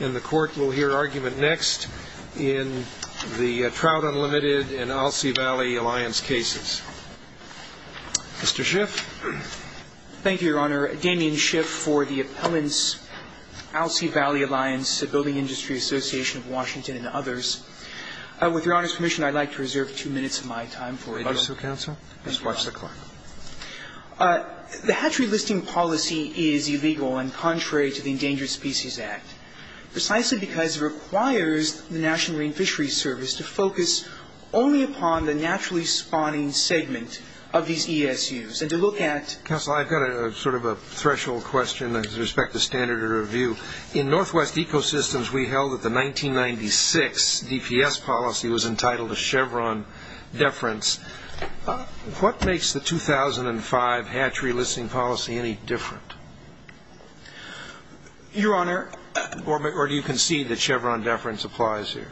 And the Court will hear argument next in the Trout Unlimited and Alsea Valley Alliance cases. Mr. Schiff. Thank you, Your Honor. Damien Schiff for the appellants, Alsea Valley Alliance, Building Industry Association of Washington, and others. With Your Honor's permission, I'd like to reserve two minutes of my time for a little- Let's watch the clock. The hatchery listing policy is illegal and contrary to the Endangered Species Act, precisely because it requires the National Marine Fisheries Service to focus only upon the naturally spawning segment of these ESUs and to look at- Counsel, I've got sort of a threshold question with respect to standard of review. In Northwest Ecosystems, we held that the 1996 DPS policy was entitled a Chevron deference. What makes the 2005 hatchery listing policy any different? Your Honor- Or do you concede that Chevron deference applies here?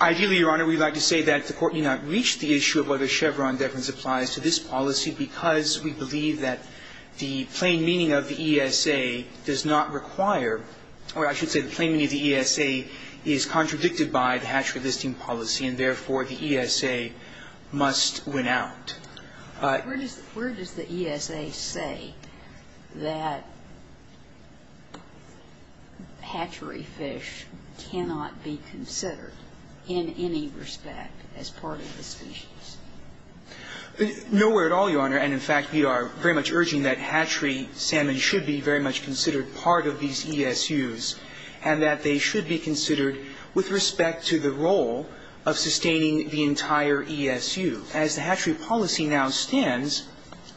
Ideally, Your Honor, we'd like to say that the Court may not reach the issue of whether Chevron deference applies to this policy because we believe that the plain meaning of the ESA does not require- or I should say the plain meaning of the ESA is contradicted by the hatchery listing policy and, therefore, the ESA must win out. Where does the ESA say that hatchery fish cannot be considered in any respect as part of the species? And in fact, we are very much urging that hatchery salmon should be very much considered part of these ESUs and that they should be considered with respect to the role of sustaining the entire ESU. As the hatchery policy now stands,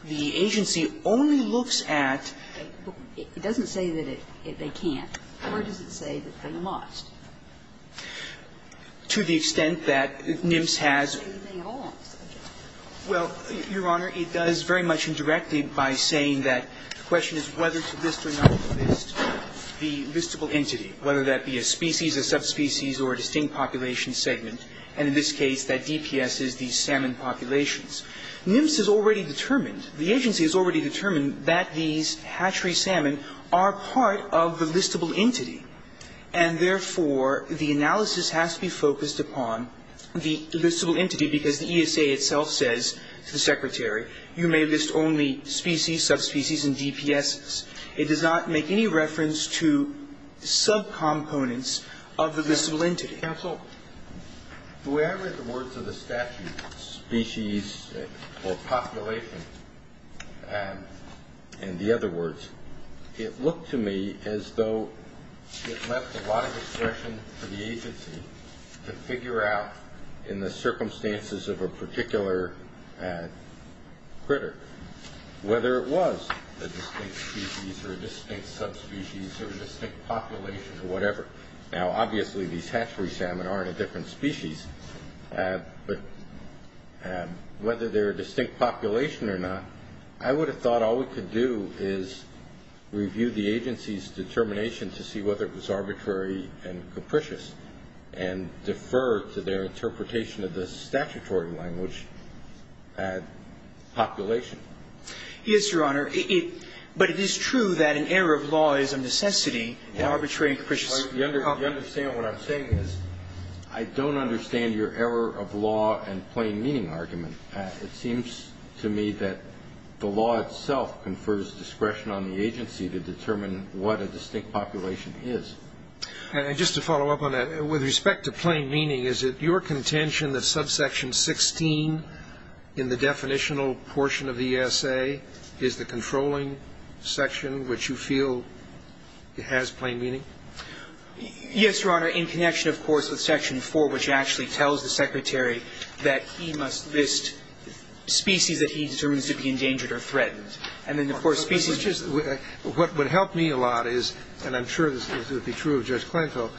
the agency only looks at- It doesn't say that they can't. Where does it say that they must? To the extent that NIMS has- Well, Your Honor, it does very much indirectly by saying that the question is whether to list or not list the listable entity, whether that be a species, a subspecies, or a distinct population segment. And in this case, that DPS is the salmon populations. NIMS has already determined, the agency has already determined that these hatchery salmon are part of the listable entity, and therefore, the analysis has to be focused upon the listable entity because the ESA itself says to the Secretary, you may list only species, subspecies, and DPSs. It does not make any reference to subcomponents of the listable entity. Counsel, the way I read the words of the statute, species or population, in the other words, it looked to me as though it left a lot of discretion for the agency to figure out in the circumstances of a particular critter whether it was a distinct species or a distinct subspecies or a distinct population or whatever. Now, obviously, these hatchery salmon aren't a different species, but whether they're a distinct population or not, I would have thought all we could do is review the agency's determination to see whether it was arbitrary and capricious and defer to their interpretation of the statutory language, population. Yes, Your Honor. But it is true that an error of law is a necessity and arbitrary and capricious You understand what I'm saying is I don't understand your error of law and plain meaning argument. It seems to me that the law itself confers discretion on the agency to determine what a distinct population is. Just to follow up on that, with respect to plain meaning, is it your contention that subsection 16 in the definitional portion of the ESA is the controlling section, which you feel has plain meaning? Yes, Your Honor, in connection, of course, with section 4, which actually tells the Secretary that he must list species that he determines to be endangered or threatened. And then, of course, species... What would help me a lot is, and I'm sure this would be true of Judge Klinko,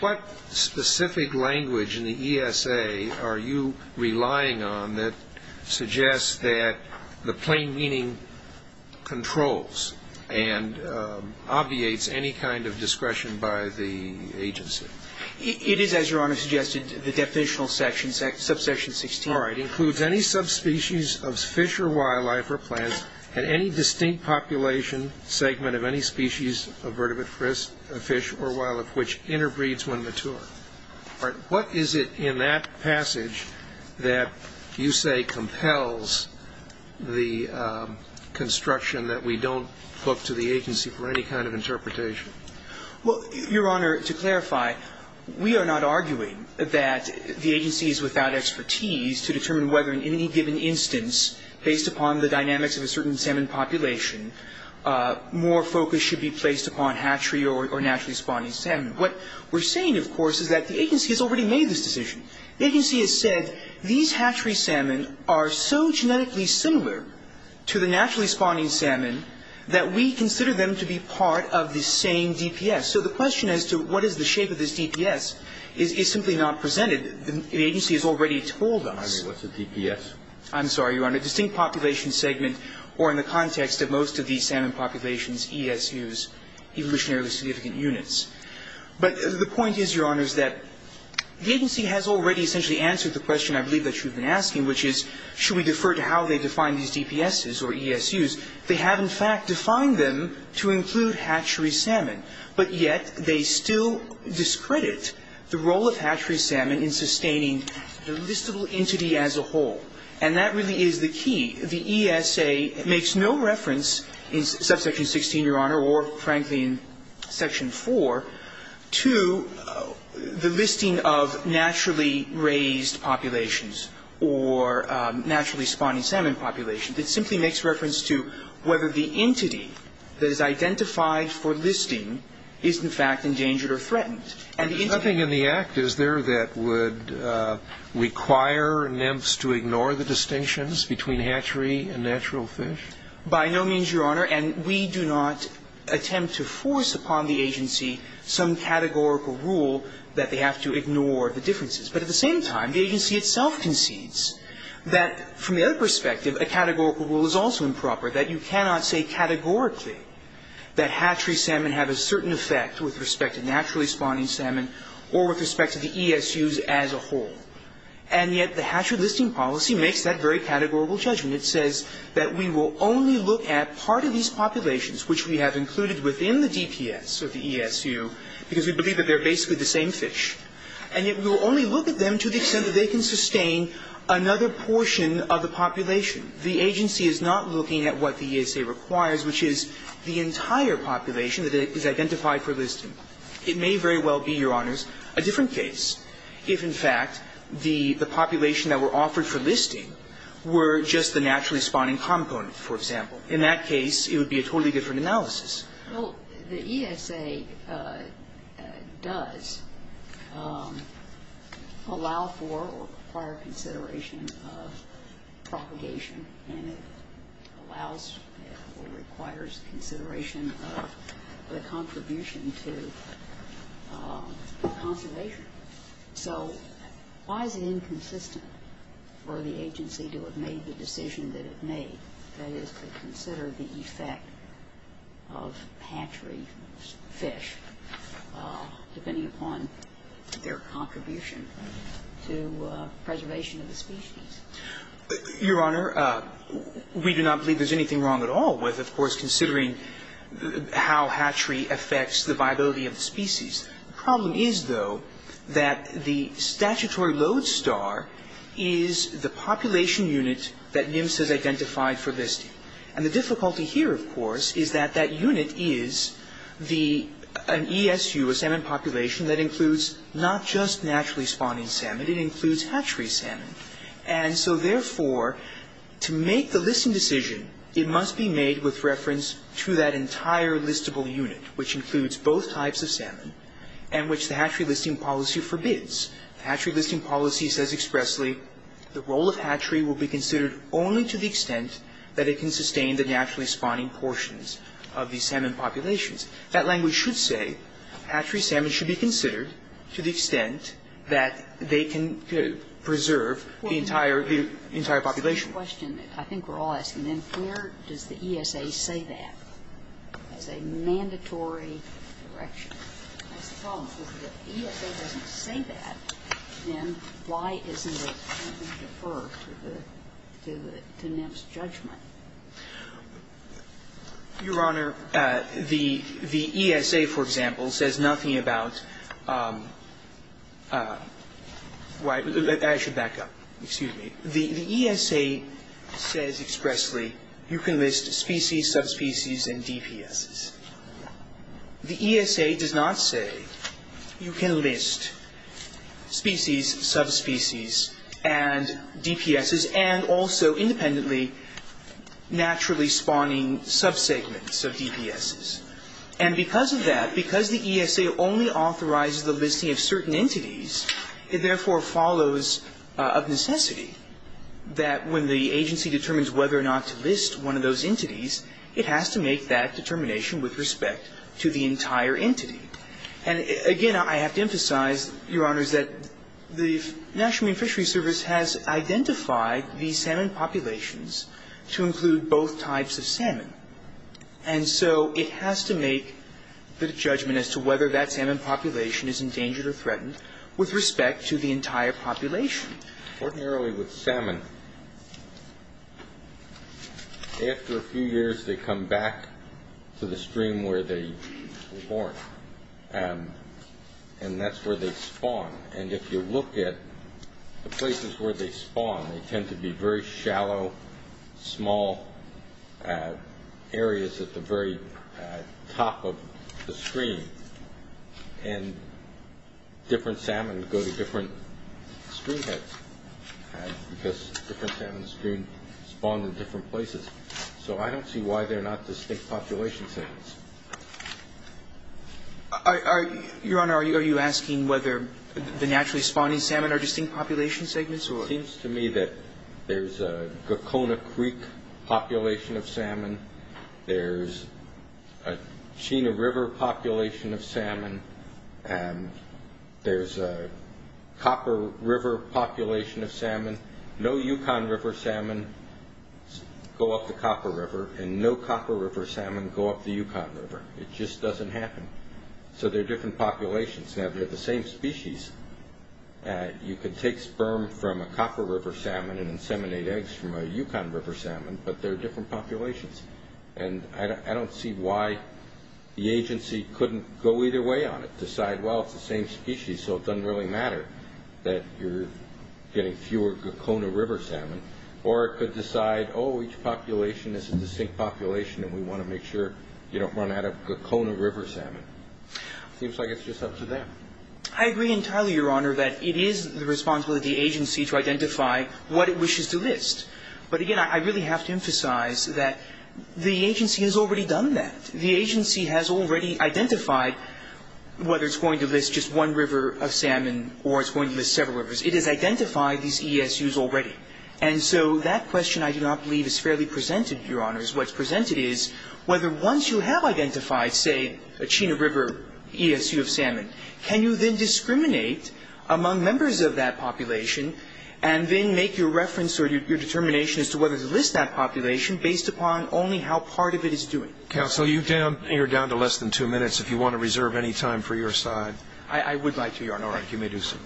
what specific language in the ESA are you relying on that suggests that the plain meaning controls and obviates any kind of discretion by the agency? It is, as Your Honor suggested, the definitional section, subsection 16. All right. Includes any subspecies of fish or wildlife or plants and any distinct population segment of any species of vertebrate fish or wildlife which interbreeds when mature. All right. What is it in that passage that you say compels the construction that we don't look to the agency for any kind of interpretation? Well, Your Honor, to clarify, we are not arguing that the agency is without expertise to determine whether in any given instance, based upon the dynamics of a certain salmon population, more focus should be placed upon hatchery or naturally spawning salmon. What we're saying, of course, is that the agency has already made this decision. The agency has said these hatchery salmon are so genetically similar to the naturally spawning salmon that we consider them to be part of the same DPS. So the question as to what is the shape of this DPS is simply not presented. The agency has already told us. I mean, what's a DPS? I'm sorry, Your Honor. Distinct population segment or in the context of most of these salmon populations, ESUs, evolutionarily significant units. But the point is, Your Honor, is that the agency has already essentially answered the question I believe that you've been asking, which is should we defer to how they define these DPSs or ESUs? They have in fact defined them to include hatchery salmon, but yet they still discredit the role of hatchery salmon in sustaining the listable entity as a whole. And that really is the key. The ESA makes no reference in subsection 16, Your Honor, or frankly in section 4, to the listing of naturally raised populations or naturally spawning salmon populations. It simply makes reference to whether the entity that is identified for listing is in fact endangered or threatened. And there's nothing in the Act, is there, that would require NEMFs to ignore the distinctions between hatchery and natural fish? By no means, Your Honor. And we do not attempt to force upon the agency some categorical rule that they have to ignore the differences. But at the same time, the agency itself concedes that from their perspective, a categorical rule is also improper, that you cannot say categorically that hatchery salmon have a certain effect with respect to naturally spawning salmon or with respect to the ESUs as a whole. And yet the hatchery listing policy makes that very categorical judgment. It says that we will only look at part of these populations, which we have included within the DPS or the ESU, because we believe that they're basically the same fish, and yet we will only look at them to the extent that they can sustain another portion of the population. The agency is not looking at what the ESA requires, which is the entire population that is identified for listing. It may very well be, Your Honors, a different case if, in fact, the population that were offered for listing were just the naturally spawning component, for example. In that case, it would be a totally different analysis. Well, the ESA does allow for or require consideration of propagation, and it allows or requires consideration of the contribution to conservation. So why is it inconsistent for the agency to have made the decision that it made, that is, to consider the effect of hatchery fish, depending upon their contribution to preservation of the species? Your Honor, we do not believe there's anything wrong at all with, of course, considering how hatchery affects the viability of the species. The problem is, though, that the statutory load star is the population unit that NIMS has identified for listing. And the difficulty here, of course, is that that unit is an ESU, a salmon population, that includes not just naturally spawning salmon, it includes hatchery salmon. And so, therefore, to make the listing decision, it must be made with reference to that entire listable unit, which includes both types of salmon, and which the hatchery listing policy forbids. The hatchery listing policy says expressly, the role of hatchery will be considered only to the extent that it can sustain the naturally spawning portions of the salmon populations. That language should say hatchery salmon should be considered to the extent that they can preserve the entire population. The question, I think we're all asking, then, where does the ESA say that? It's a mandatory direction. That's the problem. If the ESA doesn't say that, then why isn't it going to defer to the NIMS judgment? Your Honor, the ESA, for example, says nothing about why the – I should back up. Excuse me. The ESA says expressly you can list species, subspecies, and DPSs. The ESA does not say you can list species, subspecies, and DPSs, and also independently naturally spawning subsegments of DPSs. And because of that, because the ESA only authorizes the listing of certain entities, it therefore follows of necessity that when the agency determines whether or not to list one of those entities, it has to make that determination with respect to the entire entity. And again, I have to emphasize, Your Honors, that the National Marine Fishery Service has identified the salmon populations to include both types of salmon. And so it has to make the judgment as to whether that salmon population is endangered or threatened with respect to the entire population. Ordinarily with salmon, after a few years they come back to the stream where they were born. And that's where they spawn. And if you look at the places where they spawn, they tend to be very shallow, small areas at the very top of the stream. And different salmon go to different stream heads because different salmon spawn in different places. So I don't see why they're not distinct population segments. Your Honor, are you asking whether the naturally spawning salmon are distinct population segments? It seems to me that there's a Gakona Creek population of salmon. There's a Chena River population of salmon. There's a Copper River population of salmon. No Yukon River salmon go up the Copper River, and no Copper River salmon go up the Yukon River. It just doesn't happen. So they're different populations. Now, they're the same species. You can take sperm from a Copper River salmon and inseminate eggs from a Yukon River salmon, but they're different populations. And I don't see why the agency couldn't go either way on it, decide, well, it's the same species, so it doesn't really matter that you're getting fewer Gakona River salmon. Or it could decide, oh, each population is a distinct population, and we want to make sure you don't run out of Gakona River salmon. It seems like it's just up to them. I agree entirely, Your Honor, that it is the responsibility of the agency to identify what it wishes to list. But, again, I really have to emphasize that the agency has already done that. The agency has already identified whether it's going to list just one river of salmon or it's going to list several rivers. It has identified these ESUs already. And so that question, I do not believe, is fairly presented, Your Honors. What's presented is whether once you have identified, say, a Chena River ESU of salmon, can you then discriminate among members of that population and then make your reference or your determination as to whether to list that population based upon only how part of it is doing. Counsel, you're down to less than two minutes if you want to reserve any time for your side. I would like to, Your Honor. All right. You may do so.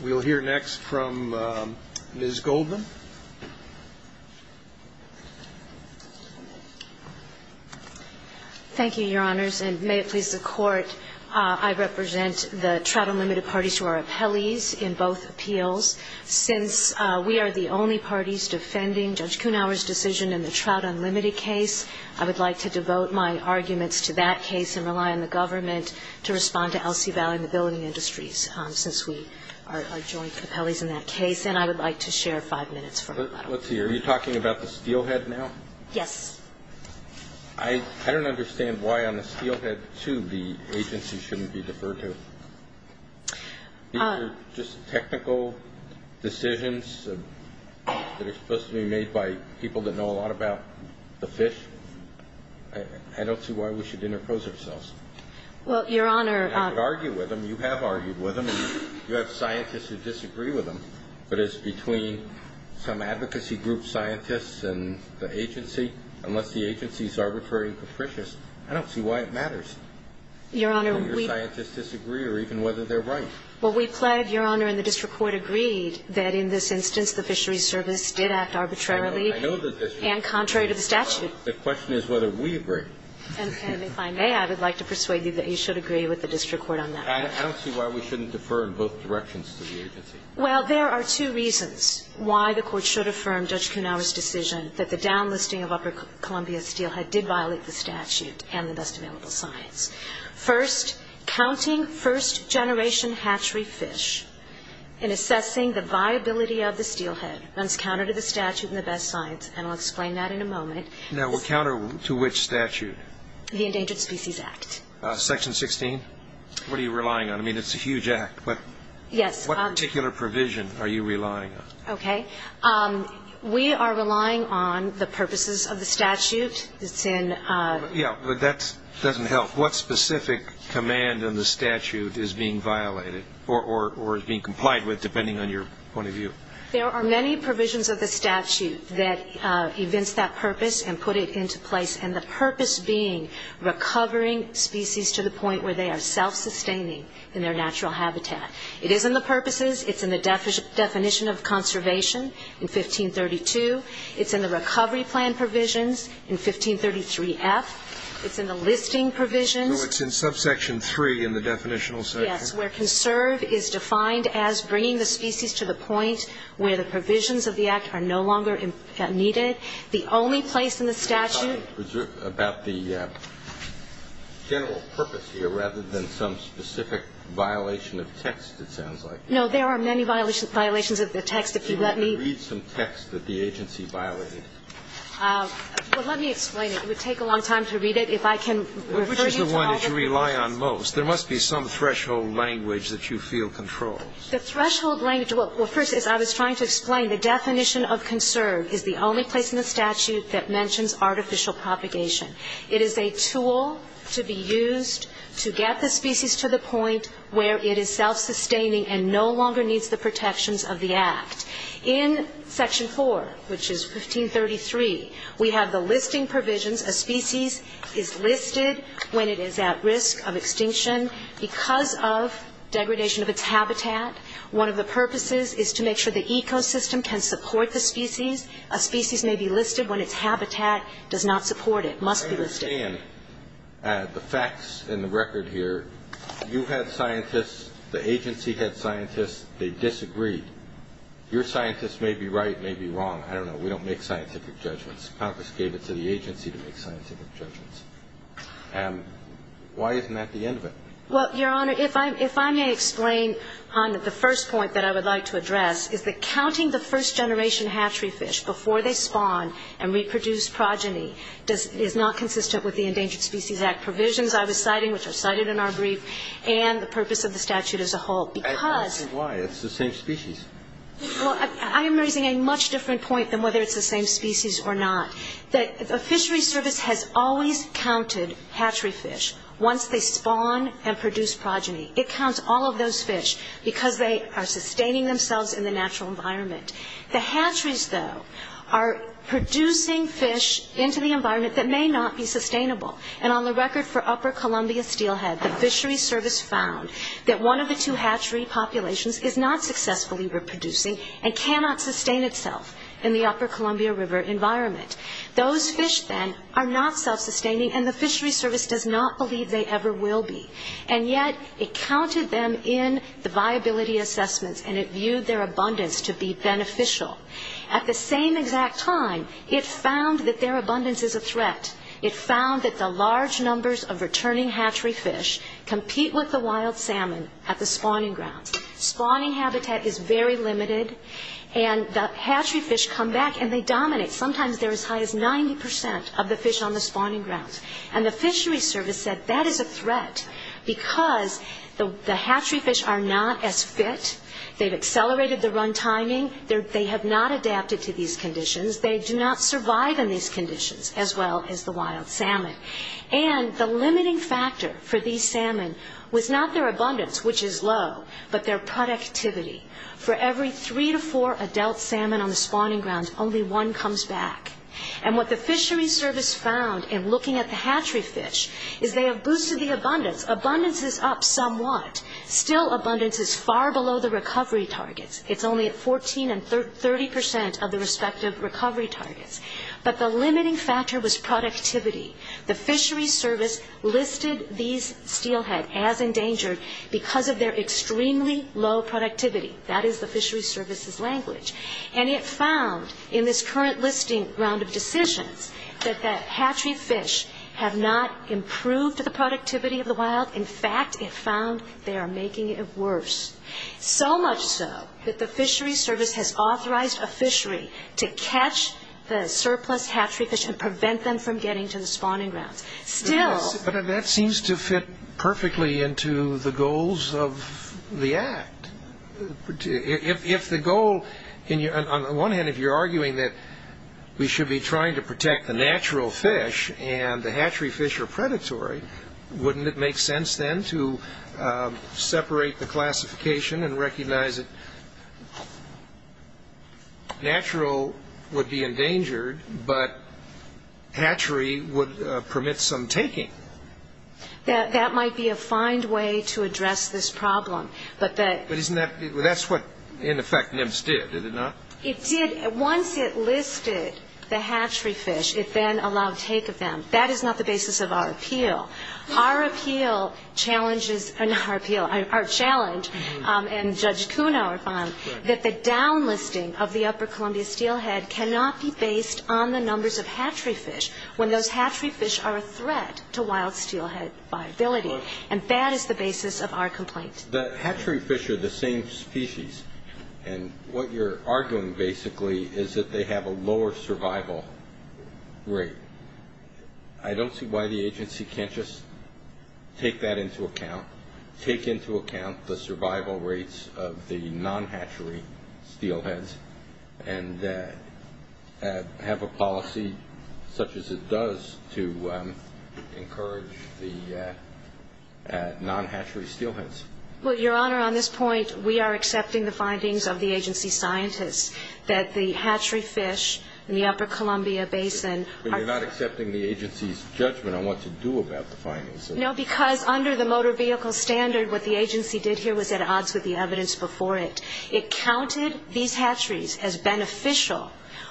We'll hear next from Ms. Goldman. Thank you, Your Honors. And may it please the Court, I represent the Trout Unlimited parties who are appellees in both appeals. Since we are the only parties defending Judge Kuhnhauer's decision in the Trout Unlimited case, I would like to devote my arguments to that case and rely on the government to respond to LC Valley and the building industries since we are joint appellees in that case. And I would like to share five minutes from that. Let's see. Are you talking about the steelhead now? Yes. I don't understand why on the steelhead, too, the agency shouldn't be deferred to. These are just technical decisions that are supposed to be made by people that know a lot about the fish. I don't see why we should interpose ourselves. Well, Your Honor. I could argue with them. You have argued with them. You have scientists who disagree with them. But it's between some advocacy group scientists and the agency. Unless the agency is arbitrary and capricious, I don't see why it matters. Your Honor, we ---- Whether scientists disagree or even whether they're right. Well, we pled, Your Honor, and the district court agreed that in this instance the fisheries service did act arbitrarily. I know. And contrary to the statute. The question is whether we agree. And if I may, I would like to persuade you that you should agree with the district court on that. I don't see why we shouldn't defer in both directions to the agency. Well, there are two reasons why the court should affirm Judge Kunawa's decision that the downlisting of upper Columbia steelhead did violate the statute and the best available science. First, counting first-generation hatchery fish and assessing the viability of the steelhead runs counter to the statute and the best science. And I'll explain that in a moment. No, well, counter to which statute? The Endangered Species Act. Section 16? What are you relying on? I mean, it's a huge act. Yes. What particular provision are you relying on? Okay. We are relying on the purposes of the statute. It's in. Yeah, but that doesn't help. What specific command in the statute is being violated or is being complied with, depending on your point of view? There are many provisions of the statute that evince that purpose and put it into place, and the purpose being recovering species to the point where they are self-sustaining in their natural habitat. It is in the purposes. It's in the definition of conservation in 1532. It's in the recovery plan provisions in 1533F. It's in the listing provisions. So it's in subsection 3 in the definitional section? Yes, where conserve is defined as bringing the species to the point where the provisions of the act are no longer needed. The only place in the statute. You're talking about the general purpose here rather than some specific violation of text, it sounds like. No, there are many violations of the text. If you let me. Read some text that the agency violated. Well, let me explain it. It would take a long time to read it. If I can refer you to all the. Which is the one that you rely on most. There must be some threshold language that you feel controls. The threshold language. Well, first, as I was trying to explain, the definition of conserve is the only place in the statute that mentions artificial propagation. It is a tool to be used to get the species to the point where it is self-sustaining and no longer needs the protections of the act. In section 4, which is 1533, we have the listing provisions. A species is listed when it is at risk of extinction because of degradation of its habitat. One of the purposes is to make sure the ecosystem can support the species. A species may be listed when its habitat does not support it, must be listed. I understand the facts in the record here. You had scientists, the agency had scientists, they disagreed. Your scientists may be right, may be wrong. I don't know. We don't make scientific judgments. Congress gave it to the agency to make scientific judgments. Why isn't that the end of it? Well, Your Honor, if I may explain, Honda, the first point that I would like to address is that counting the first generation hatchery fish before they spawn and reproduce progeny is not consistent with the Endangered Species Act provisions I was citing, which are cited in our brief, and the purpose of the statute as a whole. Because why? It's the same species. Well, I am raising a much different point than whether it's the same species or not. The fishery service has always counted hatchery fish once they spawn and produce progeny. It counts all of those fish because they are sustaining themselves in the natural environment. The hatcheries, though, are producing fish into the environment that may not be sustainable. And on the record for Upper Columbia Steelhead, the fishery service found that one of the two hatchery populations is not successfully reproducing and cannot sustain itself in the Upper Columbia River environment. Those fish, then, are not self-sustaining, and the fishery service does not believe they ever will be. And yet it counted them in the viability assessments, and it viewed their abundance to be beneficial. At the same exact time, it found that their abundance is a threat. It found that the large numbers of returning hatchery fish compete with the wild salmon at the spawning grounds. Spawning habitat is very limited, and the hatchery fish come back and they dominate. Sometimes they're as high as 90 percent of the fish on the spawning grounds. And the fishery service said that is a threat because the hatchery fish are not as fit. They've accelerated the run timing. They have not adapted to these conditions. They do not survive in these conditions as well as the wild salmon. And the limiting factor for these salmon was not their abundance, which is low, but their productivity. For every three to four adult salmon on the spawning grounds, only one comes back. And what the fishery service found in looking at the hatchery fish is they have boosted the abundance. Abundance is up somewhat. Still, abundance is far below the recovery targets. It's only at 14 and 30 percent of the respective recovery targets. But the limiting factor was productivity. The fishery service listed these steelhead as endangered because of their extremely low productivity. That is the fishery service's language. And it found in this current listing round of decisions that the hatchery fish have not improved the productivity of the wild. In fact, it found they are making it worse. So much so that the fishery service has authorized a fishery to catch the surplus hatchery fish to prevent them from getting to the spawning grounds. Still. But that seems to fit perfectly into the goals of the act. If the goal, on the one hand, if you're arguing that we should be trying to protect the natural fish and the hatchery fish are predatory, wouldn't it make sense then to separate the classification and recognize that natural would be endangered, but hatchery would permit some taking? That might be a fine way to address this problem. But that's what, in effect, NIMS did, did it not? It did. Once it listed the hatchery fish, it then allowed take of them. That is not the basis of our appeal. Our appeal challenges, not our appeal, our challenge, and Judge Kuno, if I'm, that the downlisting of the upper Columbia steelhead cannot be based on the numbers of hatchery fish when those hatchery fish are a threat to wild steelhead viability. And that is the basis of our complaint. The hatchery fish are the same species. And what you're arguing, basically, is that they have a lower survival rate. I don't see why the agency can't just take that into account, take into account the survival rates of the non-hatchery steelheads, and have a policy such as it does to encourage the non-hatchery steelheads. Well, Your Honor, on this point, we are accepting the findings of the agency scientists that the hatchery fish in the upper Columbia basin are But you're not accepting the agency's judgment on what to do about the findings. No, because under the motor vehicle standard, what the agency did here was at odds with the evidence before it. It counted these hatcheries as beneficial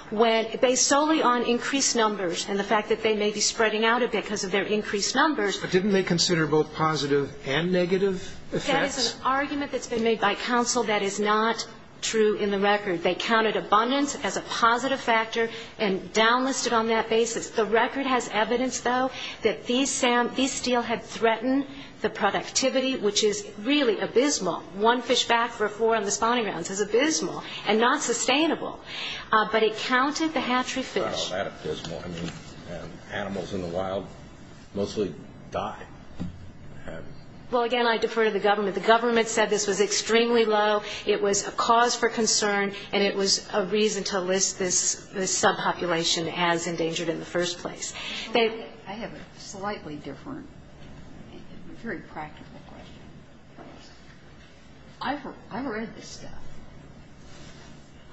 when, based solely on increased numbers and the fact that they may be spreading out a bit because of their increased numbers. But didn't they consider both positive and negative effects? That is an argument that's been made by counsel. That is not true in the record. They counted abundance as a positive factor and downlisted on that basis. The record has evidence, though, that these steelhead threatened the productivity, which is really abysmal. One fish back for four on the spawning grounds is abysmal and not sustainable. But it counted the hatchery fish. Well, that abysmal. I mean, animals in the wild mostly die. Well, again, I defer to the government. The government said this was extremely low. It was a cause for concern and it was a reason to list this subpopulation as endangered in the first place. I have a slightly different, very practical question. I've read this stuff.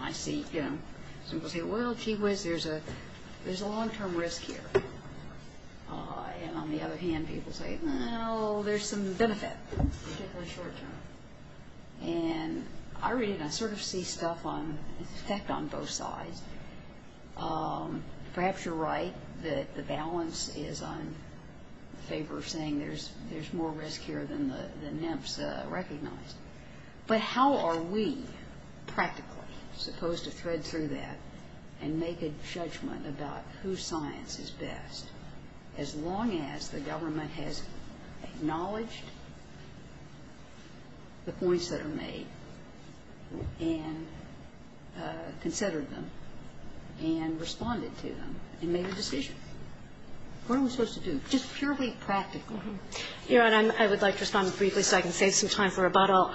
I see, you know, people say, well, gee whiz, there's a long-term risk here. And on the other hand, people say, well, there's some benefit, particularly short-term. And I read it and I sort of see stuff in effect on both sides. Perhaps you're right that the balance is in favor of saying there's more risk here than the NIMPS recognized. But how are we practically supposed to thread through that and make a judgment about whose science is best? As long as the government has acknowledged the points that are made and considered them and responded to them and made a decision. What are we supposed to do? Just purely practically. Your Honor, I would like to respond briefly so I can save some time for rebuttal.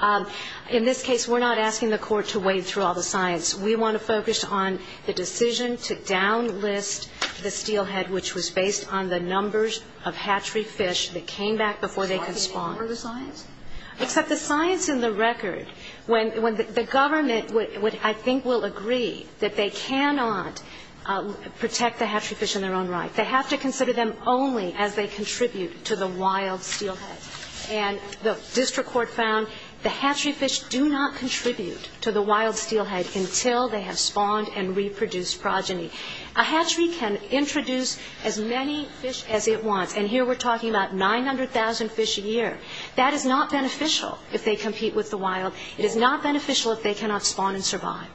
In this case, we're not asking the court to wade through all the science. We want to focus on the decision to downlist the steelhead, which was based on the numbers of hatchery fish that came back before they could spawn. Are they part of the science? Except the science in the record, when the government, I think, will agree that they cannot protect the hatchery fish in their own right. They have to consider them only as they contribute to the wild steelhead. And the district court found the hatchery fish do not contribute to the wild steelhead until they have spawned and reproduced progeny. A hatchery can introduce as many fish as it wants. And here we're talking about 900,000 fish a year. That is not beneficial if they compete with the wild. It is not beneficial if they cannot spawn and survive.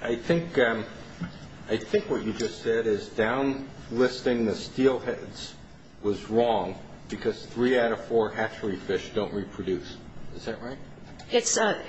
I think what you just said is downlisting the steelheads was wrong because three out of four hatchery fish don't reproduce. Is that right?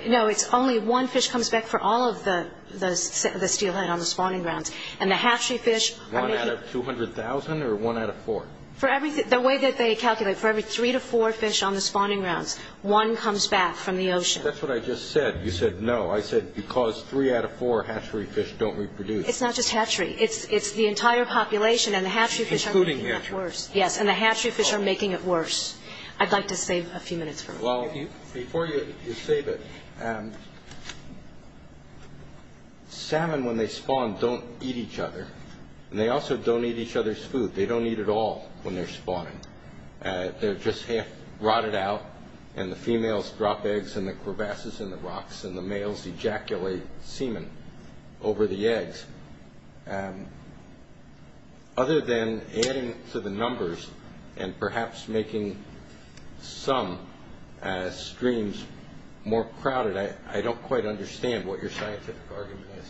No, it's only one fish comes back for all of the steelhead on the spawning grounds. And the hatchery fish are making... One out of 200,000 or one out of four? The way that they calculate, for every three to four fish on the spawning grounds, one comes back from the ocean. That's what I just said. You said no. I said because three out of four hatchery fish don't reproduce. It's not just hatchery. It's the entire population, and the hatchery fish are making it worse. Yes, and the hatchery fish are making it worse. I'd like to save a few minutes for... Before you save it, salmon, when they spawn, don't eat each other, and they also don't eat each other's food. They don't eat at all when they're spawning. They're just half rotted out, and the females drop eggs in the crevasses in the rocks, and the males ejaculate semen over the eggs. Other than adding to the numbers and perhaps making some streams more crowded, I don't quite understand what your scientific argument is.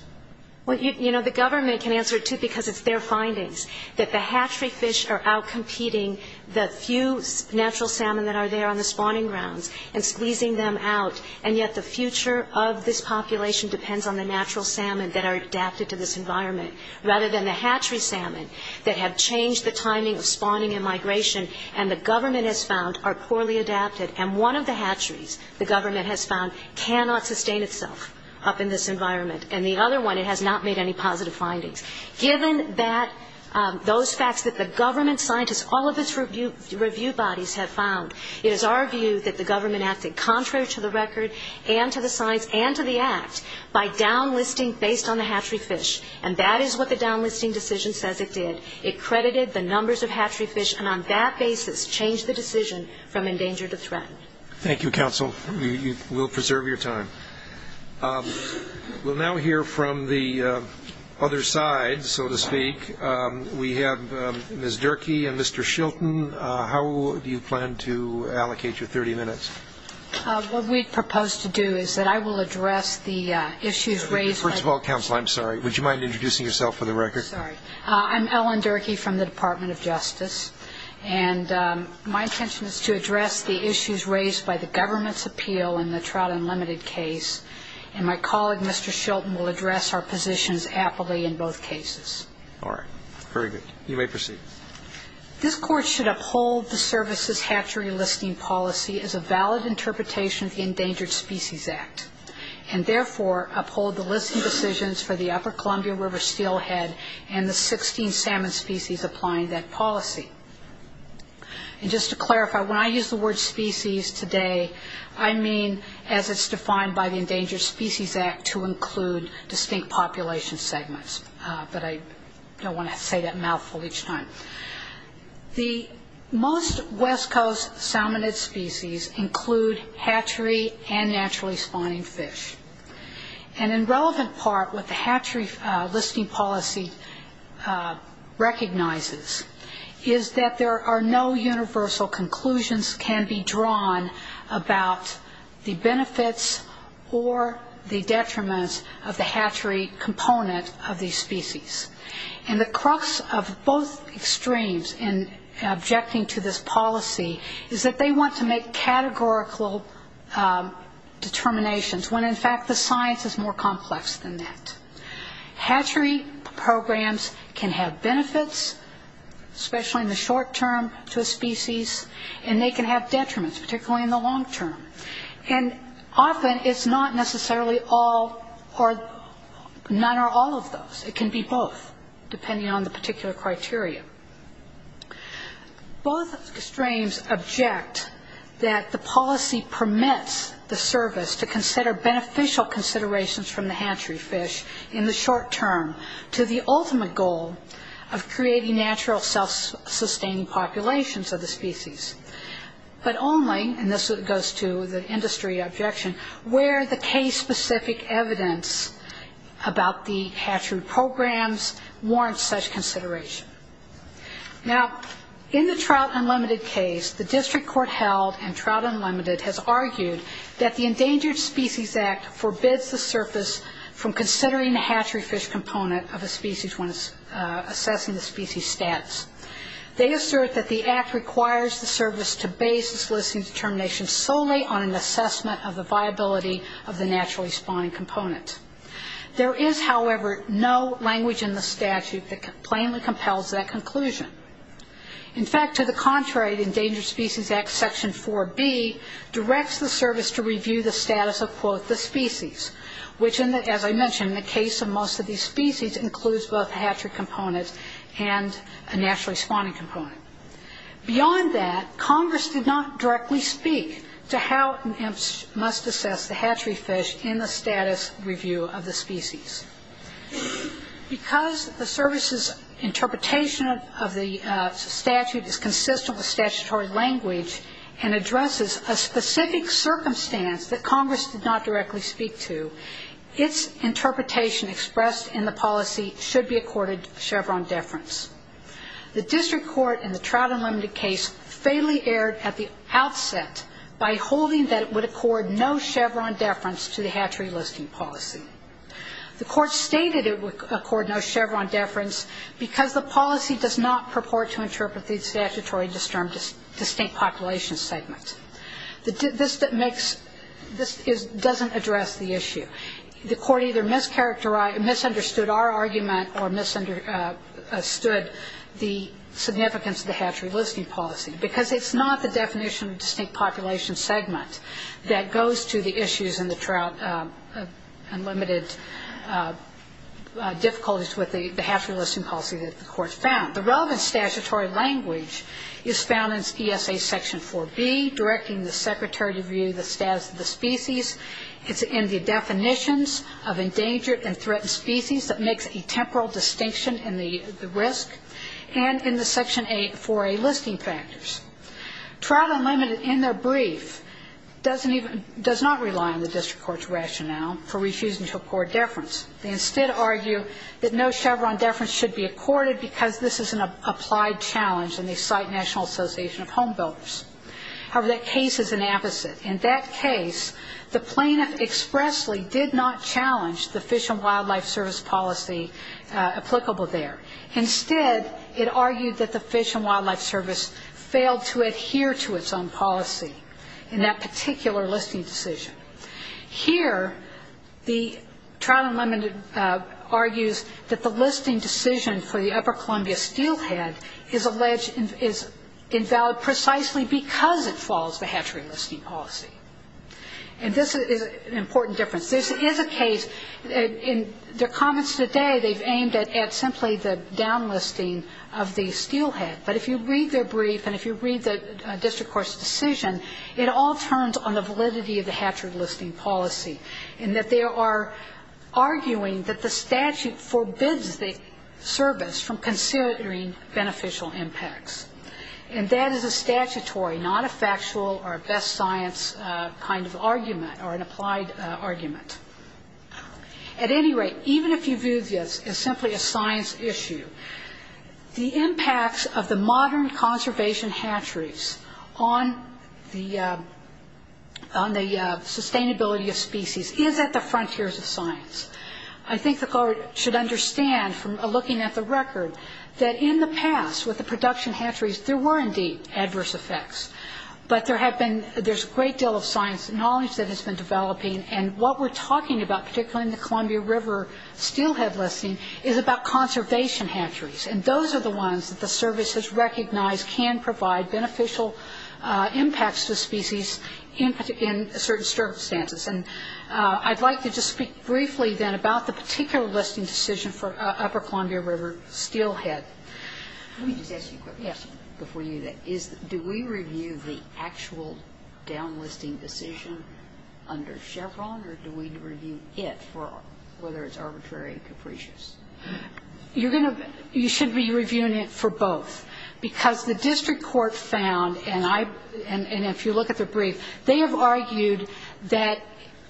Well, you know, the government can answer it too because it's their findings, that the hatchery fish are outcompeting the few natural salmon that are there on the spawning grounds and squeezing them out, and yet the future of this population depends on the natural salmon that are adapted to this environment rather than the hatchery salmon that have changed the timing of spawning and migration and the government has found are poorly adapted. And one of the hatcheries, the government has found, cannot sustain itself up in this environment, and the other one, it has not made any positive findings. Given those facts that the government scientists, all of its review bodies have found, it is our view that the government acted contrary to the record and to the science and to the act by downlisting based on the hatchery fish, and that is what the downlisting decision says it did. It credited the numbers of hatchery fish, and on that basis changed the decision from endangered to threatened. Thank you, counsel. We'll preserve your time. We'll now hear from the other side, so to speak. We have Ms. Durkee and Mr. Shilton. How do you plan to allocate your 30 minutes? What we propose to do is that I will address the issues raised by the government. First of all, counsel, I'm sorry. Would you mind introducing yourself for the record? Sorry. I'm Ellen Durkee from the Department of Justice, and my intention is to address the issues raised by the government's appeal in the trout unlimited case, and my colleague, Mr. Shilton, will address our positions aptly in both cases. All right. Very good. You may proceed. This Court should uphold the services hatchery listing policy as a valid interpretation of the Endangered Species Act, and therefore uphold the listing decisions for the Upper Columbia River steelhead and the 16 salmon species applying that policy. And just to clarify, when I use the word species today, I mean as it's defined by the Endangered Species Act to include distinct population segments, but I don't want to say that mouthful each time. The most West Coast salmonid species include hatchery and naturally spawning fish. And in relevant part, what the hatchery listing policy recognizes is that there are no universal conclusions can be drawn about the benefits or the detriments of the hatchery component of these species. And the crux of both extremes in objecting to this policy is that they want to make categorical determinations, when in fact the science is more complex than that. Hatchery programs can have benefits, especially in the short term, to a species, and they can have detriments, particularly in the long term. And often it's not necessarily all or none or all of those. It can be both, depending on the particular criteria. Both extremes object that the policy permits the service to consider beneficial considerations from the hatchery fish in the short term to the ultimate goal of creating natural self-sustaining populations of the species. But only, and this goes to the industry objection, where the case-specific evidence about the hatchery programs warrants such consideration. Now, in the Trout Unlimited case, the district court held and Trout Unlimited has argued that the Endangered Species Act forbids the surface from considering the hatchery fish component of a species when assessing the species' status. They assert that the act requires the service to base its listing determination solely on an assessment of the viability of the naturally spawning component. There is, however, no language in the statute that plainly compels that conclusion. In fact, to the contrary, the Endangered Species Act, Section 4B, directs the service to review the status of, quote, the species, which, as I mentioned, in the case of most of these species, includes both a hatchery component and a naturally spawning component. Beyond that, Congress did not directly speak to how it must assess the hatchery fish in the status review of the species. Because the service's interpretation of the statute is consistent with statutory language and addresses a specific circumstance that Congress did not directly speak to, its interpretation expressed in the policy should be accorded Chevron deference. The district court in the Trout Unlimited case fatally erred at the outset by holding that it would accord no Chevron deference to the hatchery listing policy. The court stated it would accord no Chevron deference because the policy does not purport to interpret the statutory distinct population segment. This doesn't address the issue. The court either misunderstood our argument or misunderstood the significance of the hatchery listing policy, because it's not the definition of distinct population segment that goes to the issues in the Trout Unlimited difficulties with the hatchery listing policy that the court found. The relevant statutory language is found in ESA section 4B, directing the secretary to review the status of the species. It's in the definitions of endangered and threatened species that makes a temporal distinction in the risk and in the section 4A listing factors. Trout Unlimited in their brief doesn't even – does not rely on the district court's rationale for refusing to accord deference. They instead argue that no Chevron deference should be accorded because this is an applied challenge and they cite National Association of Home Builders. However, that case is an opposite. In that case, the plaintiff expressly did not challenge the Fish and Wildlife Service policy applicable there. Instead, it argued that the Fish and Wildlife Service failed to adhere to its own policy in that particular listing decision. Here, the Trout Unlimited argues that the listing decision for the Upper Columbia steelhead is alleged – is invalid precisely because it follows the hatchery listing policy. And this is an important difference. This is a case – in their comments today, they've aimed at simply the downlisting of the steelhead. But if you read their brief and if you read the district court's decision, it all turns on the validity of the hatchery listing policy in that they are arguing that the statute forbids the service from considering beneficial impacts. And that is a statutory, not a factual or a best science kind of argument or an applied argument. At any rate, even if you view this as simply a science issue, the impacts of the modern conservation hatcheries on the sustainability of species is at the frontiers of science. I think the court should understand from looking at the record that in the past, with the production hatcheries, there were indeed adverse effects. But there have been – there's a great deal of science and knowledge that has been developing. And what we're talking about, particularly in the Columbia River steelhead listing, is about conservation hatcheries. And those are the ones that the service has recognized can provide beneficial impacts to species in certain circumstances. And I'd like to just speak briefly then about the particular listing decision for Upper Columbia River steelhead. Let me just ask you a quick question before you do that. Do we review the actual downlisting decision under Chevron, or do we review it for – whether it's arbitrary and capricious? You're going to – you should be reviewing it for both. Because the district court found, and I – and if you look at the brief, they have argued that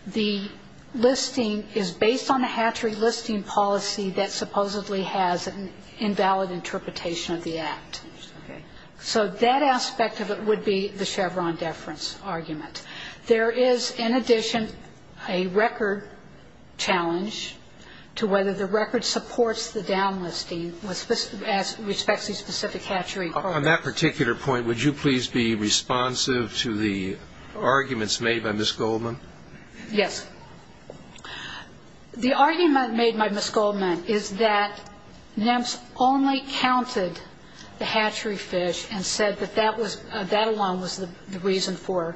the listing is based on a hatchery listing policy that supposedly has an invalid interpretation of the Act. Okay. So that aspect of it would be the Chevron deference argument. There is, in addition, a record challenge to whether the record supports the downlisting with respect to the specific hatchery. On that particular point, would you please be responsive to the arguments made by Ms. Goldman? Yes. The argument made by Ms. Goldman is that NEMS only counted the hatchery fish and said that that was – that alone was the reason for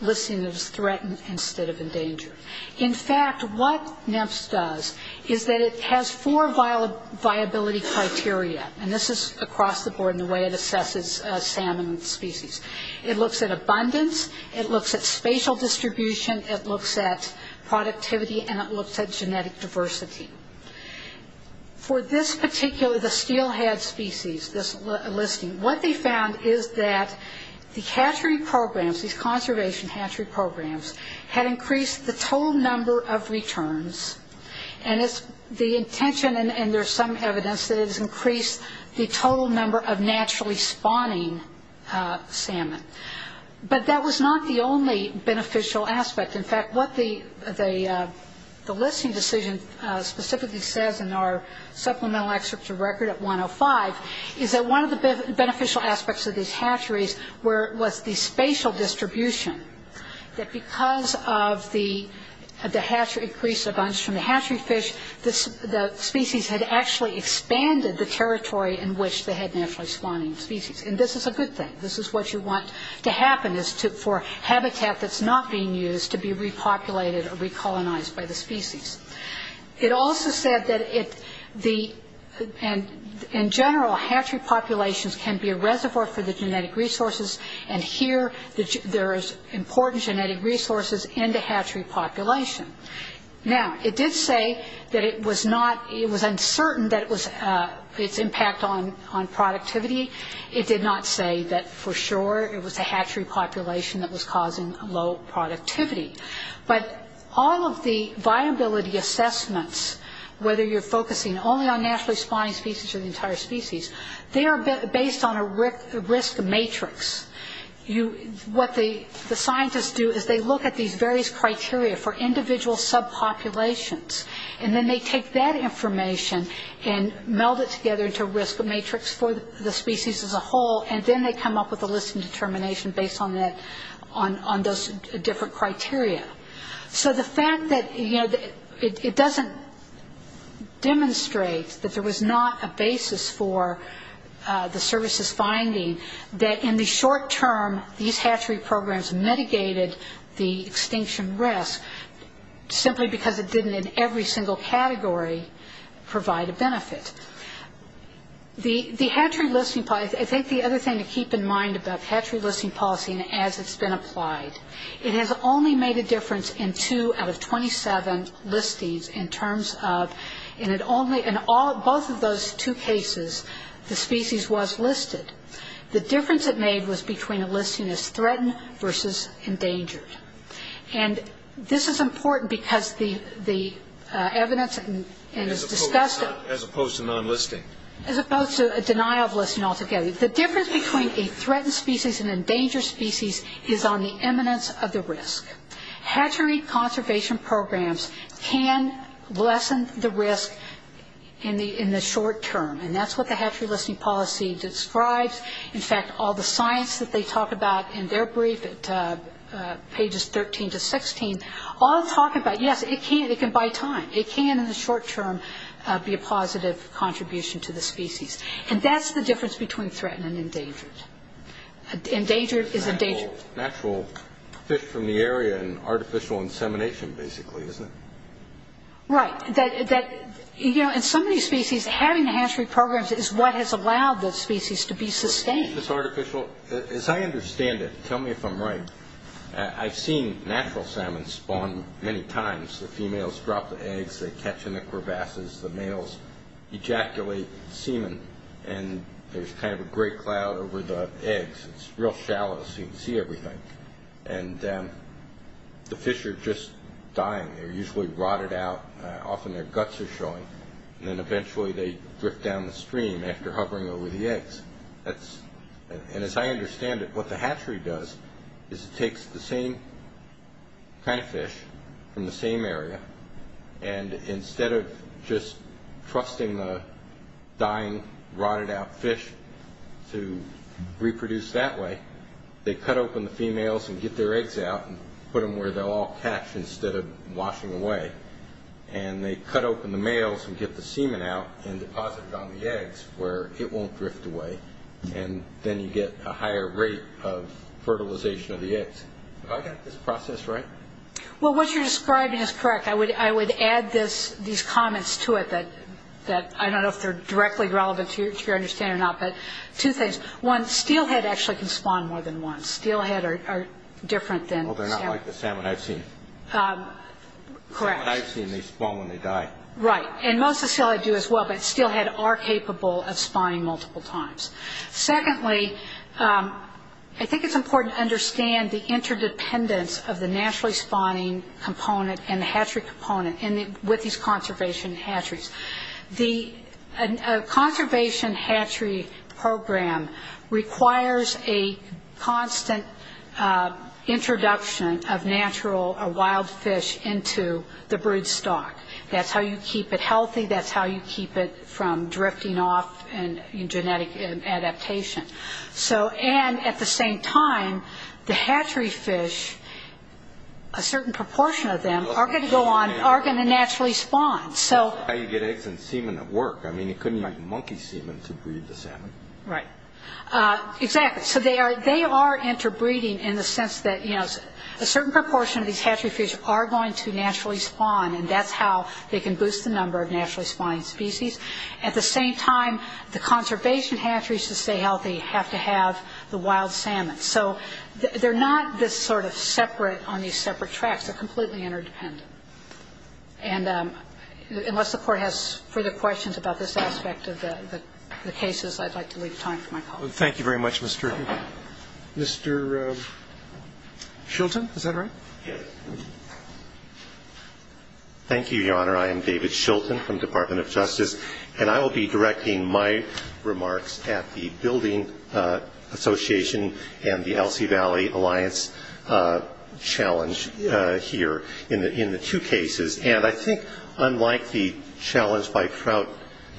listing as threatened instead of endangered. In fact, what NEMS does is that it has four viability criteria, and this is across the board in the way it assesses salmon species. It looks at abundance, it looks at spatial distribution, it looks at productivity, and it looks at genetic diversity. For this particular – the steelhead species, this listing, what they found is that the hatchery programs, these conservation hatchery programs, had increased the total number of returns, and it's the intention – and there's some evidence that it has increased the total number of naturally spawning salmon. But that was not the only beneficial aspect. In fact, what the listing decision specifically says in our supplemental excerpt to record at 105 is that one of the beneficial aspects of these hatcheries was the spatial distribution, that because of the increased abundance from the hatchery fish, the species had actually expanded the territory in which they had naturally spawning species. And this is a good thing. This is what you want to happen is for habitat that's not being used to be repopulated or recolonized by the species. It also said that in general hatchery populations can be a reservoir for the genetic resources, and here there is important genetic resources in the hatchery population. Now, it did say that it was not – it was uncertain that it was – its impact on productivity. It did not say that for sure it was a hatchery population that was causing low productivity. But all of the viability assessments, whether you're focusing only on naturally spawning species or the entire species, they are based on a risk matrix. What the scientists do is they look at these various criteria for individual subpopulations, and then they take that information and meld it together into a risk matrix for the species as a whole, and then they come up with a list and determination based on those different criteria. So the fact that it doesn't demonstrate that there was not a basis for the services finding, that in the short term these hatchery programs mitigated the extinction risk simply because it didn't in every single category provide a benefit. The hatchery listing – I think the other thing to keep in mind about hatchery listing policy as it's been applied, it has only made a difference in two out of 27 listings in terms of – in both of those two cases the species was listed. The difference it made was between a listing as threatened versus endangered. And this is important because the evidence – As opposed to non-listing. As opposed to a denial of listing altogether. The difference between a threatened species and an endangered species is on the eminence of the risk. Hatchery conservation programs can lessen the risk in the short term, and that's what the hatchery listing policy describes. In fact, all the science that they talk about in their brief at pages 13 to 16, all talk about, yes, it can buy time. It can in the short term be a positive contribution to the species. And that's the difference between threatened and endangered. Endangered is endangered. Natural fish from the area and artificial insemination basically, isn't it? Right. In so many species, having the hatchery programs is what has allowed the species to be sustained. As I understand it, tell me if I'm right, I've seen natural salmon spawn many times. The females drop the eggs, they catch in the crevasses. The males ejaculate semen, and there's kind of a gray cloud over the eggs. It's real shallow so you can see everything. And the fish are just dying. They're usually rotted out, often their guts are showing, and then eventually they drift down the stream after hovering over the eggs. And as I understand it, what the hatchery does is it takes the same kind of fish from the same area, and instead of just trusting the dying, rotted out fish to reproduce that way, they cut open the females and get their eggs out and put them where they'll all catch instead of washing away. And they cut open the males and get the semen out and deposit it on the eggs where it won't drift away. And then you get a higher rate of fertilization of the eggs. Have I got this process right? Well, what you're describing is correct. I would add these comments to it that I don't know if they're directly relevant to your understanding or not. But two things. One, steelhead actually can spawn more than once. Steelhead are different than salmon. Well, they're not like the salmon I've seen. Correct. The salmon I've seen, they spawn when they die. Right. And most of the steelhead do as well, but steelhead are capable of spawning multiple times. Secondly, I think it's important to understand the interdependence of the naturally spawning component and the hatchery component with these conservation hatcheries. A conservation hatchery program requires a constant introduction of natural wild fish into the brood stock. That's how you keep it healthy. That's how you keep it from drifting off in genetic adaptation. And at the same time, the hatchery fish, a certain proportion of them, are going to naturally spawn. That's how you get eggs and semen at work. I mean, you couldn't make monkey semen to breed the salmon. Right. Exactly. So they are interbreeding in the sense that a certain proportion of these hatchery fish are going to naturally spawn, and that's how they can boost the number of naturally spawning species. At the same time, the conservation hatcheries, to stay healthy, have to have the wild salmon. So they're not this sort of separate on these separate tracks. They're completely interdependent. And unless the Court has further questions about this aspect of the cases, I'd like to leave time for my colleagues. Thank you very much, Mr. Shilton. Is that right? Yes. Thank you, Your Honor. I am David Shilton from the Department of Justice, and I will be directing my remarks at the Building Association and the Elsie Valley Alliance challenge here in the two cases. And I think, unlike the challenge by Prout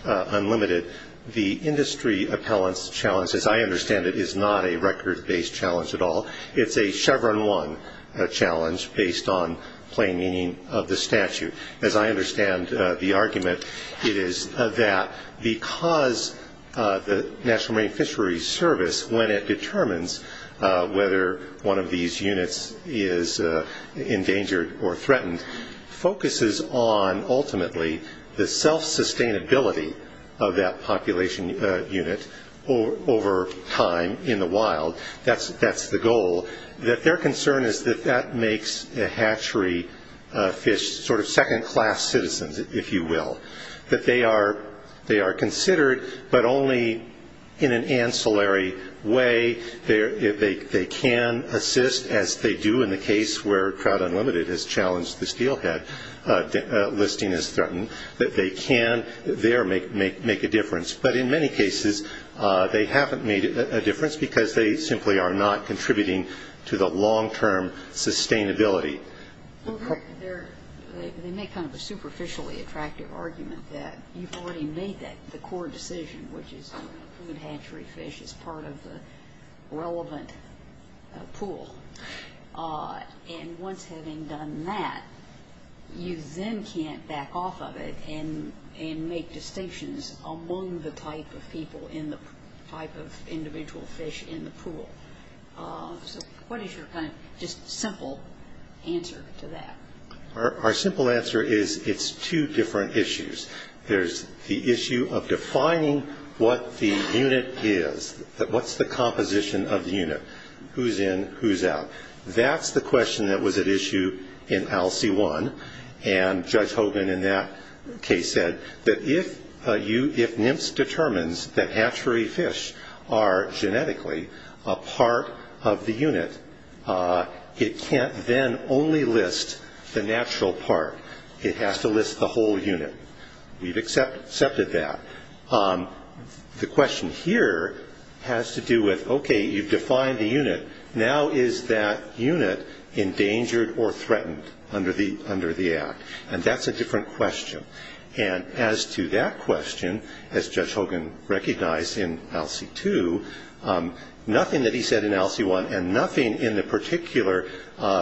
Unlimited, the industry appellant's challenge, as I understand it, is not a record-based challenge at all. It's a Chevron 1 challenge based on plain meaning of the statute. As I understand the argument, it is that because the National Marine Fisheries Service, when it determines whether one of these units is endangered or threatened, focuses on, ultimately, the self-sustainability of that population unit over time in the wild. That's the goal. Their concern is that that makes the hatchery fish sort of second-class citizens, if you will. That they are considered, but only in an ancillary way. They can assist, as they do in the case where Prout Unlimited has challenged the steelhead listing as threatened, that they can there make a difference. But in many cases, they haven't made a difference because they simply are not contributing to the long-term sustainability. They make kind of a superficially attractive argument that you've already made the core decision, which is to include hatchery fish as part of the relevant pool. And once having done that, you then can't back off of it and make distinctions among the type of people in the type of individual fish in the pool. So what is your kind of just simple answer to that? Our simple answer is it's two different issues. There's the issue of defining what the unit is. What's the composition of the unit? Who's in, who's out? That's the question that was at issue in ALCE-1. And Judge Hogan in that case said that if NIMPS determines that hatchery fish are genetically a part of the unit, it can't then only list the natural part. It has to list the whole unit. We've accepted that. The question here has to do with, okay, you've defined the unit. Now is that unit endangered or threatened under the Act? And that's a different question. And as to that question, as Judge Hogan recognized in ALCE-2, nothing that he said in ALCE-1 and nothing in the particular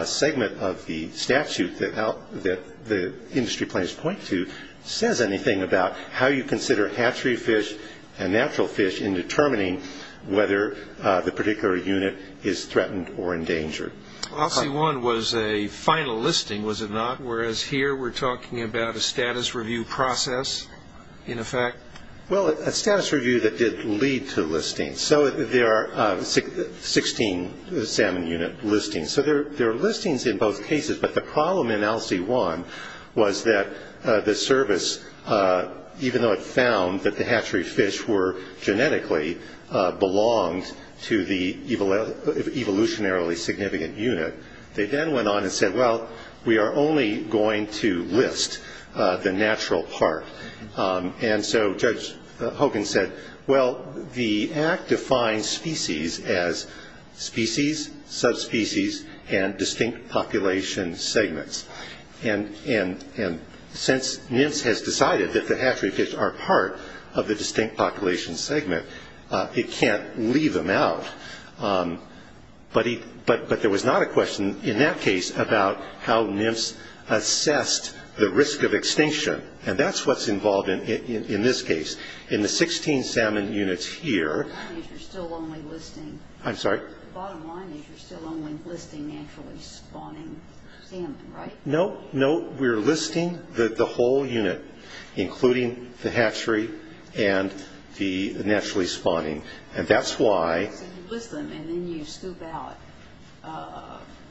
segment of the statute that the industry plans to point to says anything about how you consider hatchery fish and natural fish in determining whether the particular unit is threatened or endangered. ALCE-1 was a final listing, was it not? Whereas here we're talking about a status review process in effect? Well, a status review that did lead to listings. So there are 16 salmon unit listings. So there are listings in both cases. But the problem in ALCE-1 was that the service, even though it found that the hatchery fish were genetically belonged to the evolutionarily significant unit, they then went on and said, well, we are only going to list the natural part. And so Judge Hogan said, well, the Act defines species as species, subspecies, and distinct population segments. And since NIMS has decided that the hatchery fish are part of the distinct population segment, it can't leave them out. But there was not a question in that case about how NIMS assessed the risk of extinction. And that's what's involved in this case. In the 16 salmon units here... The bottom line is you're still only listing naturally spawning salmon, right? No, no, we're listing the whole unit, including the hatchery and the naturally spawning. And that's why... So you list them and then you scoop out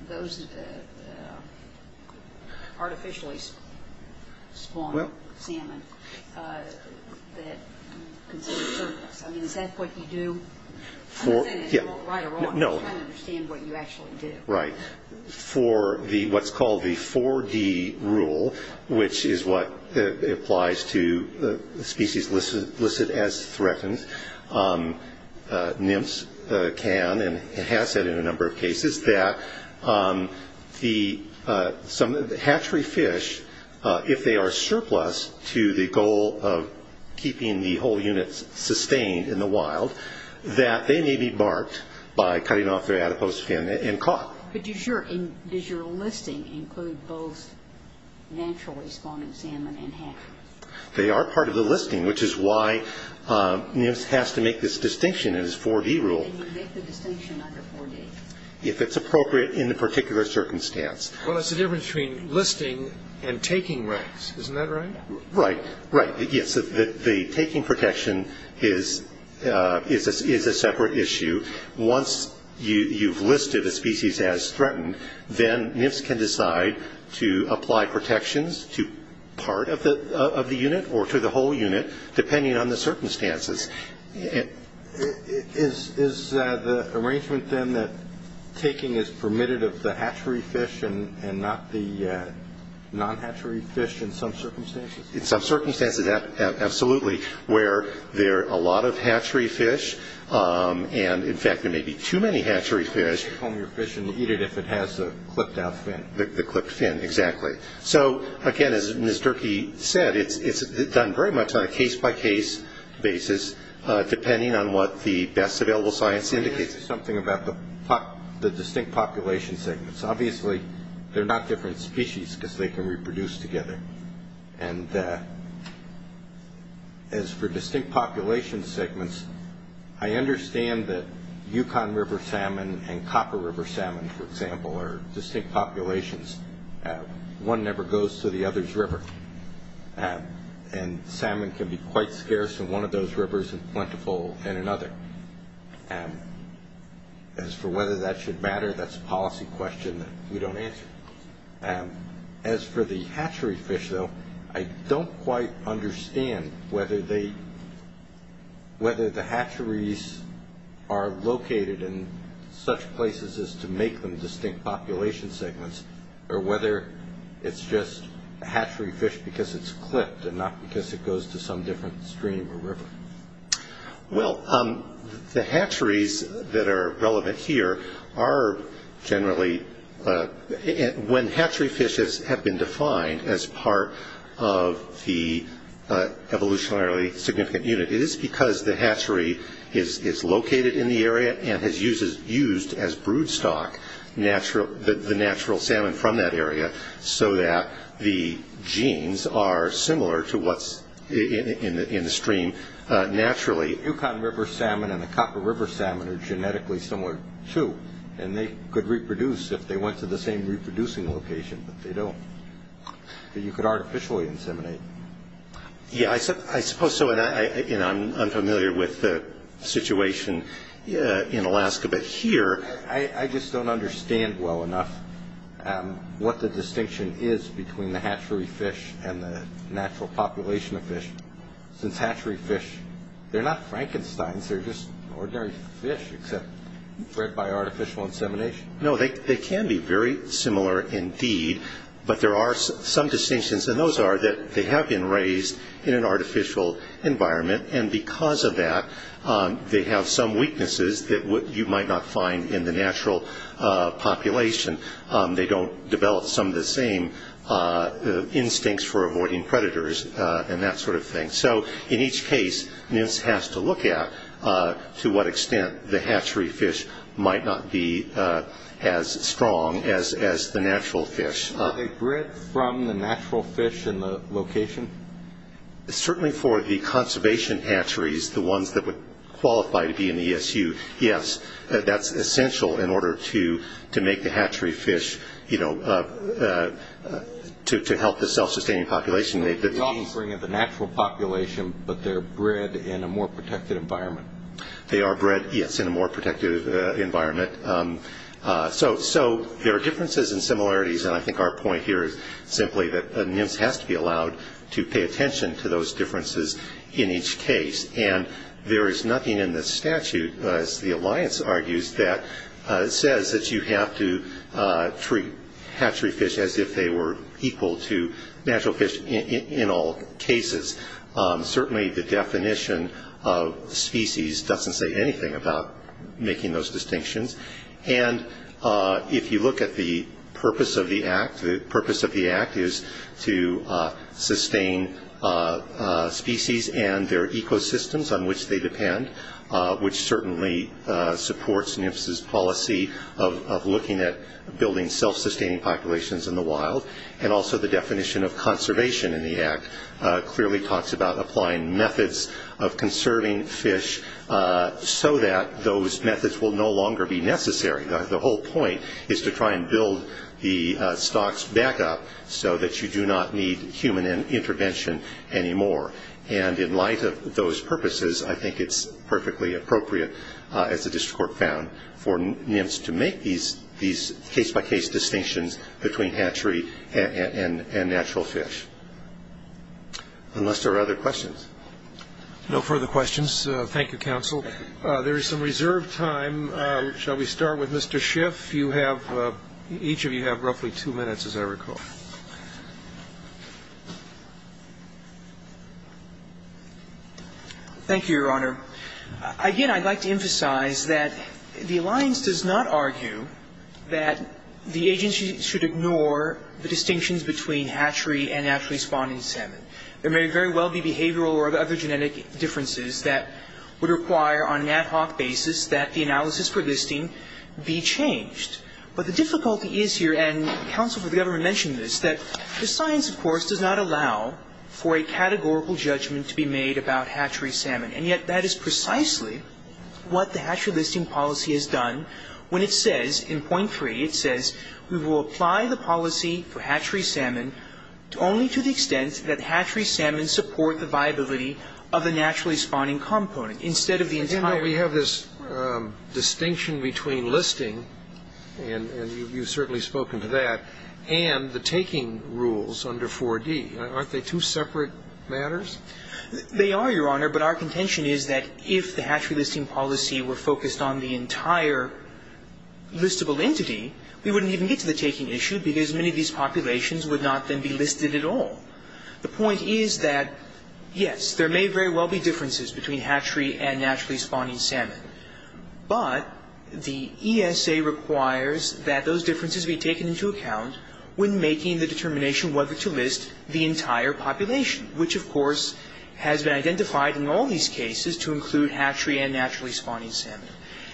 those artificially spawned salmon that consider surplus. I mean, is that what you do? I'm not saying it right or wrong. I'm just trying to understand what you actually do. Right. For what's called the 4-D rule, which is what applies to species listed as threatened, NIMS can and has said in a number of cases that the hatchery fish, if they are surplus to the goal of keeping the whole unit sustained in the wild, that they may be marked by cutting off their adipose fin and caught. But does your listing include both naturally spawned salmon and hatcheries? They are part of the listing, which is why NIMS has to make this distinction in its 4-D rule. And you make the distinction under 4-D? If it's appropriate in the particular circumstance. Well, that's the difference between listing and taking rights. Isn't that right? Right, right. Yes, the taking protection is a separate issue. Once you've listed a species as threatened, then NIMS can decide to apply protections to part of the unit or to the whole unit, depending on the circumstances. Is the arrangement then that taking is permitted of the hatchery fish and not the non-hatchery fish in some circumstances? In some circumstances, absolutely, where there are a lot of hatchery fish and, in fact, there may be too many hatchery fish. Take home your fish and eat it if it has the clipped out fin. The clipped fin, exactly. So, again, as Ms. Durkee said, it's done very much on a case-by-case basis, depending on what the best available science indicates. Let me ask you something about the distinct population segments. Obviously, they're not different species because they can reproduce together. And as for distinct population segments, I understand that Yukon River salmon and Copper River salmon, for example, are distinct populations. One never goes to the other's river, and salmon can be quite scarce in one of those rivers and plentiful in another. As for whether that should matter, that's a policy question that we don't answer. As for the hatchery fish, though, I don't quite understand whether the hatcheries are located in such places as to make them distinct population segments or whether it's just a hatchery fish because it's clipped and not because it goes to some different stream or river. Well, the hatcheries that are relevant here are generally... When hatchery fish have been defined as part of the evolutionarily significant unit, it is because the hatchery is located in the area and has used as brood stock the natural salmon from that area so that the genes are similar to what's in the stream naturally. Yukon River salmon and the Copper River salmon are genetically similar, too, and they could reproduce if they went to the same reproducing location, but they don't. You could artificially inseminate. Yeah, I suppose so, and I'm unfamiliar with the situation in Alaska, I just don't understand well enough what the distinction is between the hatchery fish and the natural population of fish since hatchery fish, they're not Frankensteins. They're just ordinary fish except bred by artificial insemination. No, they can be very similar indeed, but there are some distinctions, and those are that they have been raised in an artificial environment, and because of that they have some weaknesses that you might not find in the natural population. They don't develop some of the same instincts for avoiding predators and that sort of thing. So in each case, NIST has to look at to what extent the hatchery fish might not be as strong as the natural fish. Are they bred from the natural fish in the location? Certainly for the conservation hatcheries, the ones that would qualify to be in the ESU, yes. That's essential in order to make the hatchery fish to help the self-sustaining population. You're offering the natural population, but they're bred in a more protected environment. They are bred, yes, in a more protected environment. So there are differences and similarities, and I think our point here is simply that NIST has to be allowed to pay attention to those differences in each case, and there is nothing in the statute, as the alliance argues, that says that you have to treat hatchery fish as if they were equal to natural fish in all cases. Certainly the definition of species doesn't say anything about making those distinctions, and if you look at the purpose of the Act, the purpose of the Act is to sustain species and their ecosystems on which they depend, which certainly supports NIST's policy of looking at building self-sustaining populations in the wild, and also the definition of conservation in the Act clearly talks about applying methods of conserving fish so that those methods will no longer be necessary. The whole point is to try and build the stocks back up so that you do not need human intervention anymore, and in light of those purposes, I think it's perfectly appropriate, as the district court found, for NIMS to make these case-by-case distinctions between hatchery and natural fish, unless there are other questions. No further questions. Thank you, counsel. There is some reserved time. Shall we start with Mr. Schiff? Each of you have roughly two minutes, as I recall. Thank you, Your Honor. Again, I'd like to emphasize that the alliance does not argue that the agency should ignore the distinctions between hatchery and naturally spawning salmon. There may very well be behavioral or other genetic differences that would require, on an ad hoc basis, that the analysis for listing be changed. But the difficulty is here, and counsel for the government mentioned this, that the science, of course, does not allow for a categorical judgment to be made about hatchery salmon, and yet that is precisely what the hatchery listing policy has done when it says, in point three, it says we will apply the policy for hatchery salmon only to the extent that hatchery salmon support the viability of a naturally spawning component, instead of the entire We have this distinction between listing, and you've certainly spoken to that, and the taking rules under 4D. Aren't they two separate matters? They are, Your Honor, but our contention is that if the hatchery listing policy were focused on the entire listable entity, we wouldn't even get to the taking issue, because many of these populations would not then be listed at all. The point is that, yes, there may very well be differences between hatchery and naturally spawning salmon, but the ESA requires that those differences be taken into account when making the determination whether to list the entire population, which, of course, has been identified in all these cases to include hatchery and naturally spawning salmon.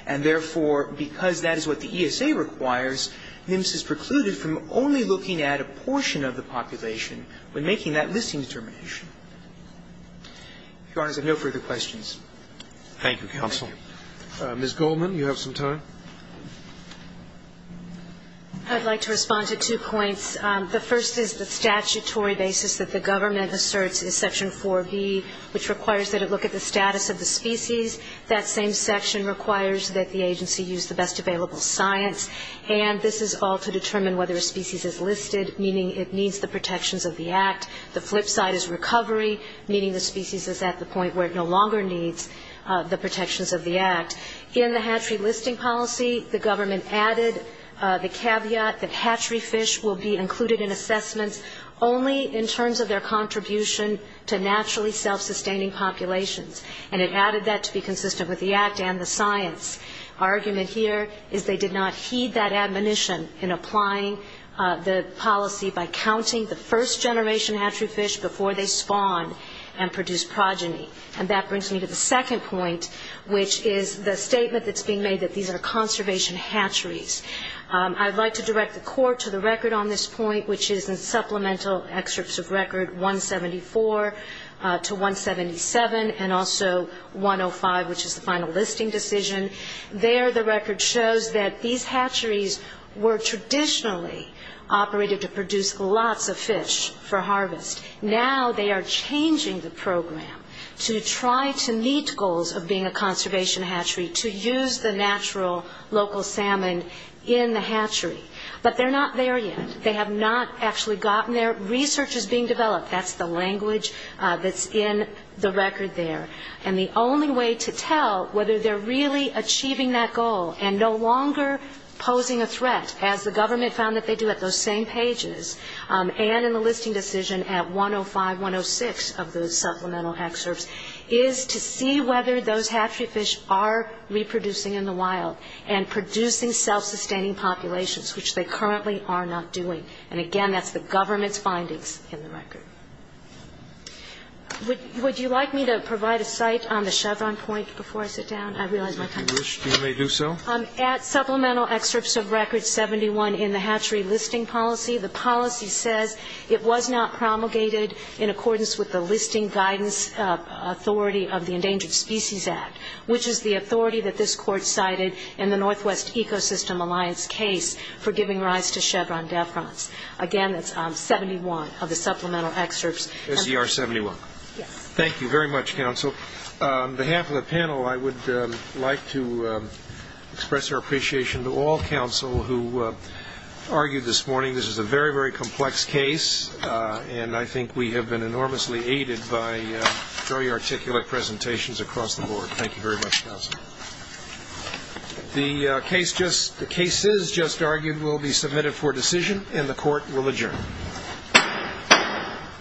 And therefore, because that is what the ESA requires, MIMS is precluded from only looking at a portion of the population when making that listing determination. If Your Honors have no further questions. Thank you, counsel. Ms. Goldman, you have some time. I'd like to respond to two points. The first is the statutory basis that the government asserts in Section 4B, which requires that it look at the status of the species. That same section requires that the agency use the best available science. And this is all to determine whether a species is listed, meaning it needs the protections of the Act. The flip side is recovery, meaning the species is at the point where it no longer needs the protections of the Act. In the hatchery listing policy, the government added the caveat that hatchery fish will be included in assessments only in terms of their contribution to naturally self-sustaining populations. And it added that to be consistent with the Act and the science. Our argument here is they did not heed that admonition in applying the policy by counting the first generation hatchery fish before they spawn and produce progeny. And that brings me to the second point, which is the statement that's being made that these are conservation hatcheries. I'd like to direct the court to the record on this point, which is in supplemental excerpts of record 174 to 177, and also 105, which is the final listing decision. There the record shows that these hatcheries were traditionally operated to produce lots of fish for harvest. Now they are changing the program to try to meet goals of being a conservation hatchery, to use the natural local salmon in the hatchery. But they're not there yet. They have not actually gotten there. Research is being developed. That's the language that's in the record there. And the only way to tell whether they're really achieving that goal and no longer posing a threat, as the government found that they do at those same pages and in the listing decision at 105, 106 of those supplemental excerpts, is to see whether those hatchery fish are reproducing in the wild and producing self-sustaining populations, which they currently are not doing. And, again, that's the government's findings in the record. Would you like me to provide a site on the Chevron point before I sit down? I realize my time is up. If you wish, you may do so. At supplemental excerpts of record 71 in the hatchery listing policy, the policy says it was not promulgated in accordance with the listing guidance authority of the Endangered Species Act, which is the authority that this court cited in the Northwest Ecosystem Alliance case for giving rise to Chevron deference. Again, that's 71 of the supplemental excerpts. That's ER 71? Yes. Thank you very much, counsel. On behalf of the panel, I would like to express our appreciation to all counsel who argued this morning. This is a very, very complex case, and I think we have been enormously aided by very articulate presentations across the board. Thank you very much, counsel. The cases just argued will be submitted for decision, and the court will adjourn.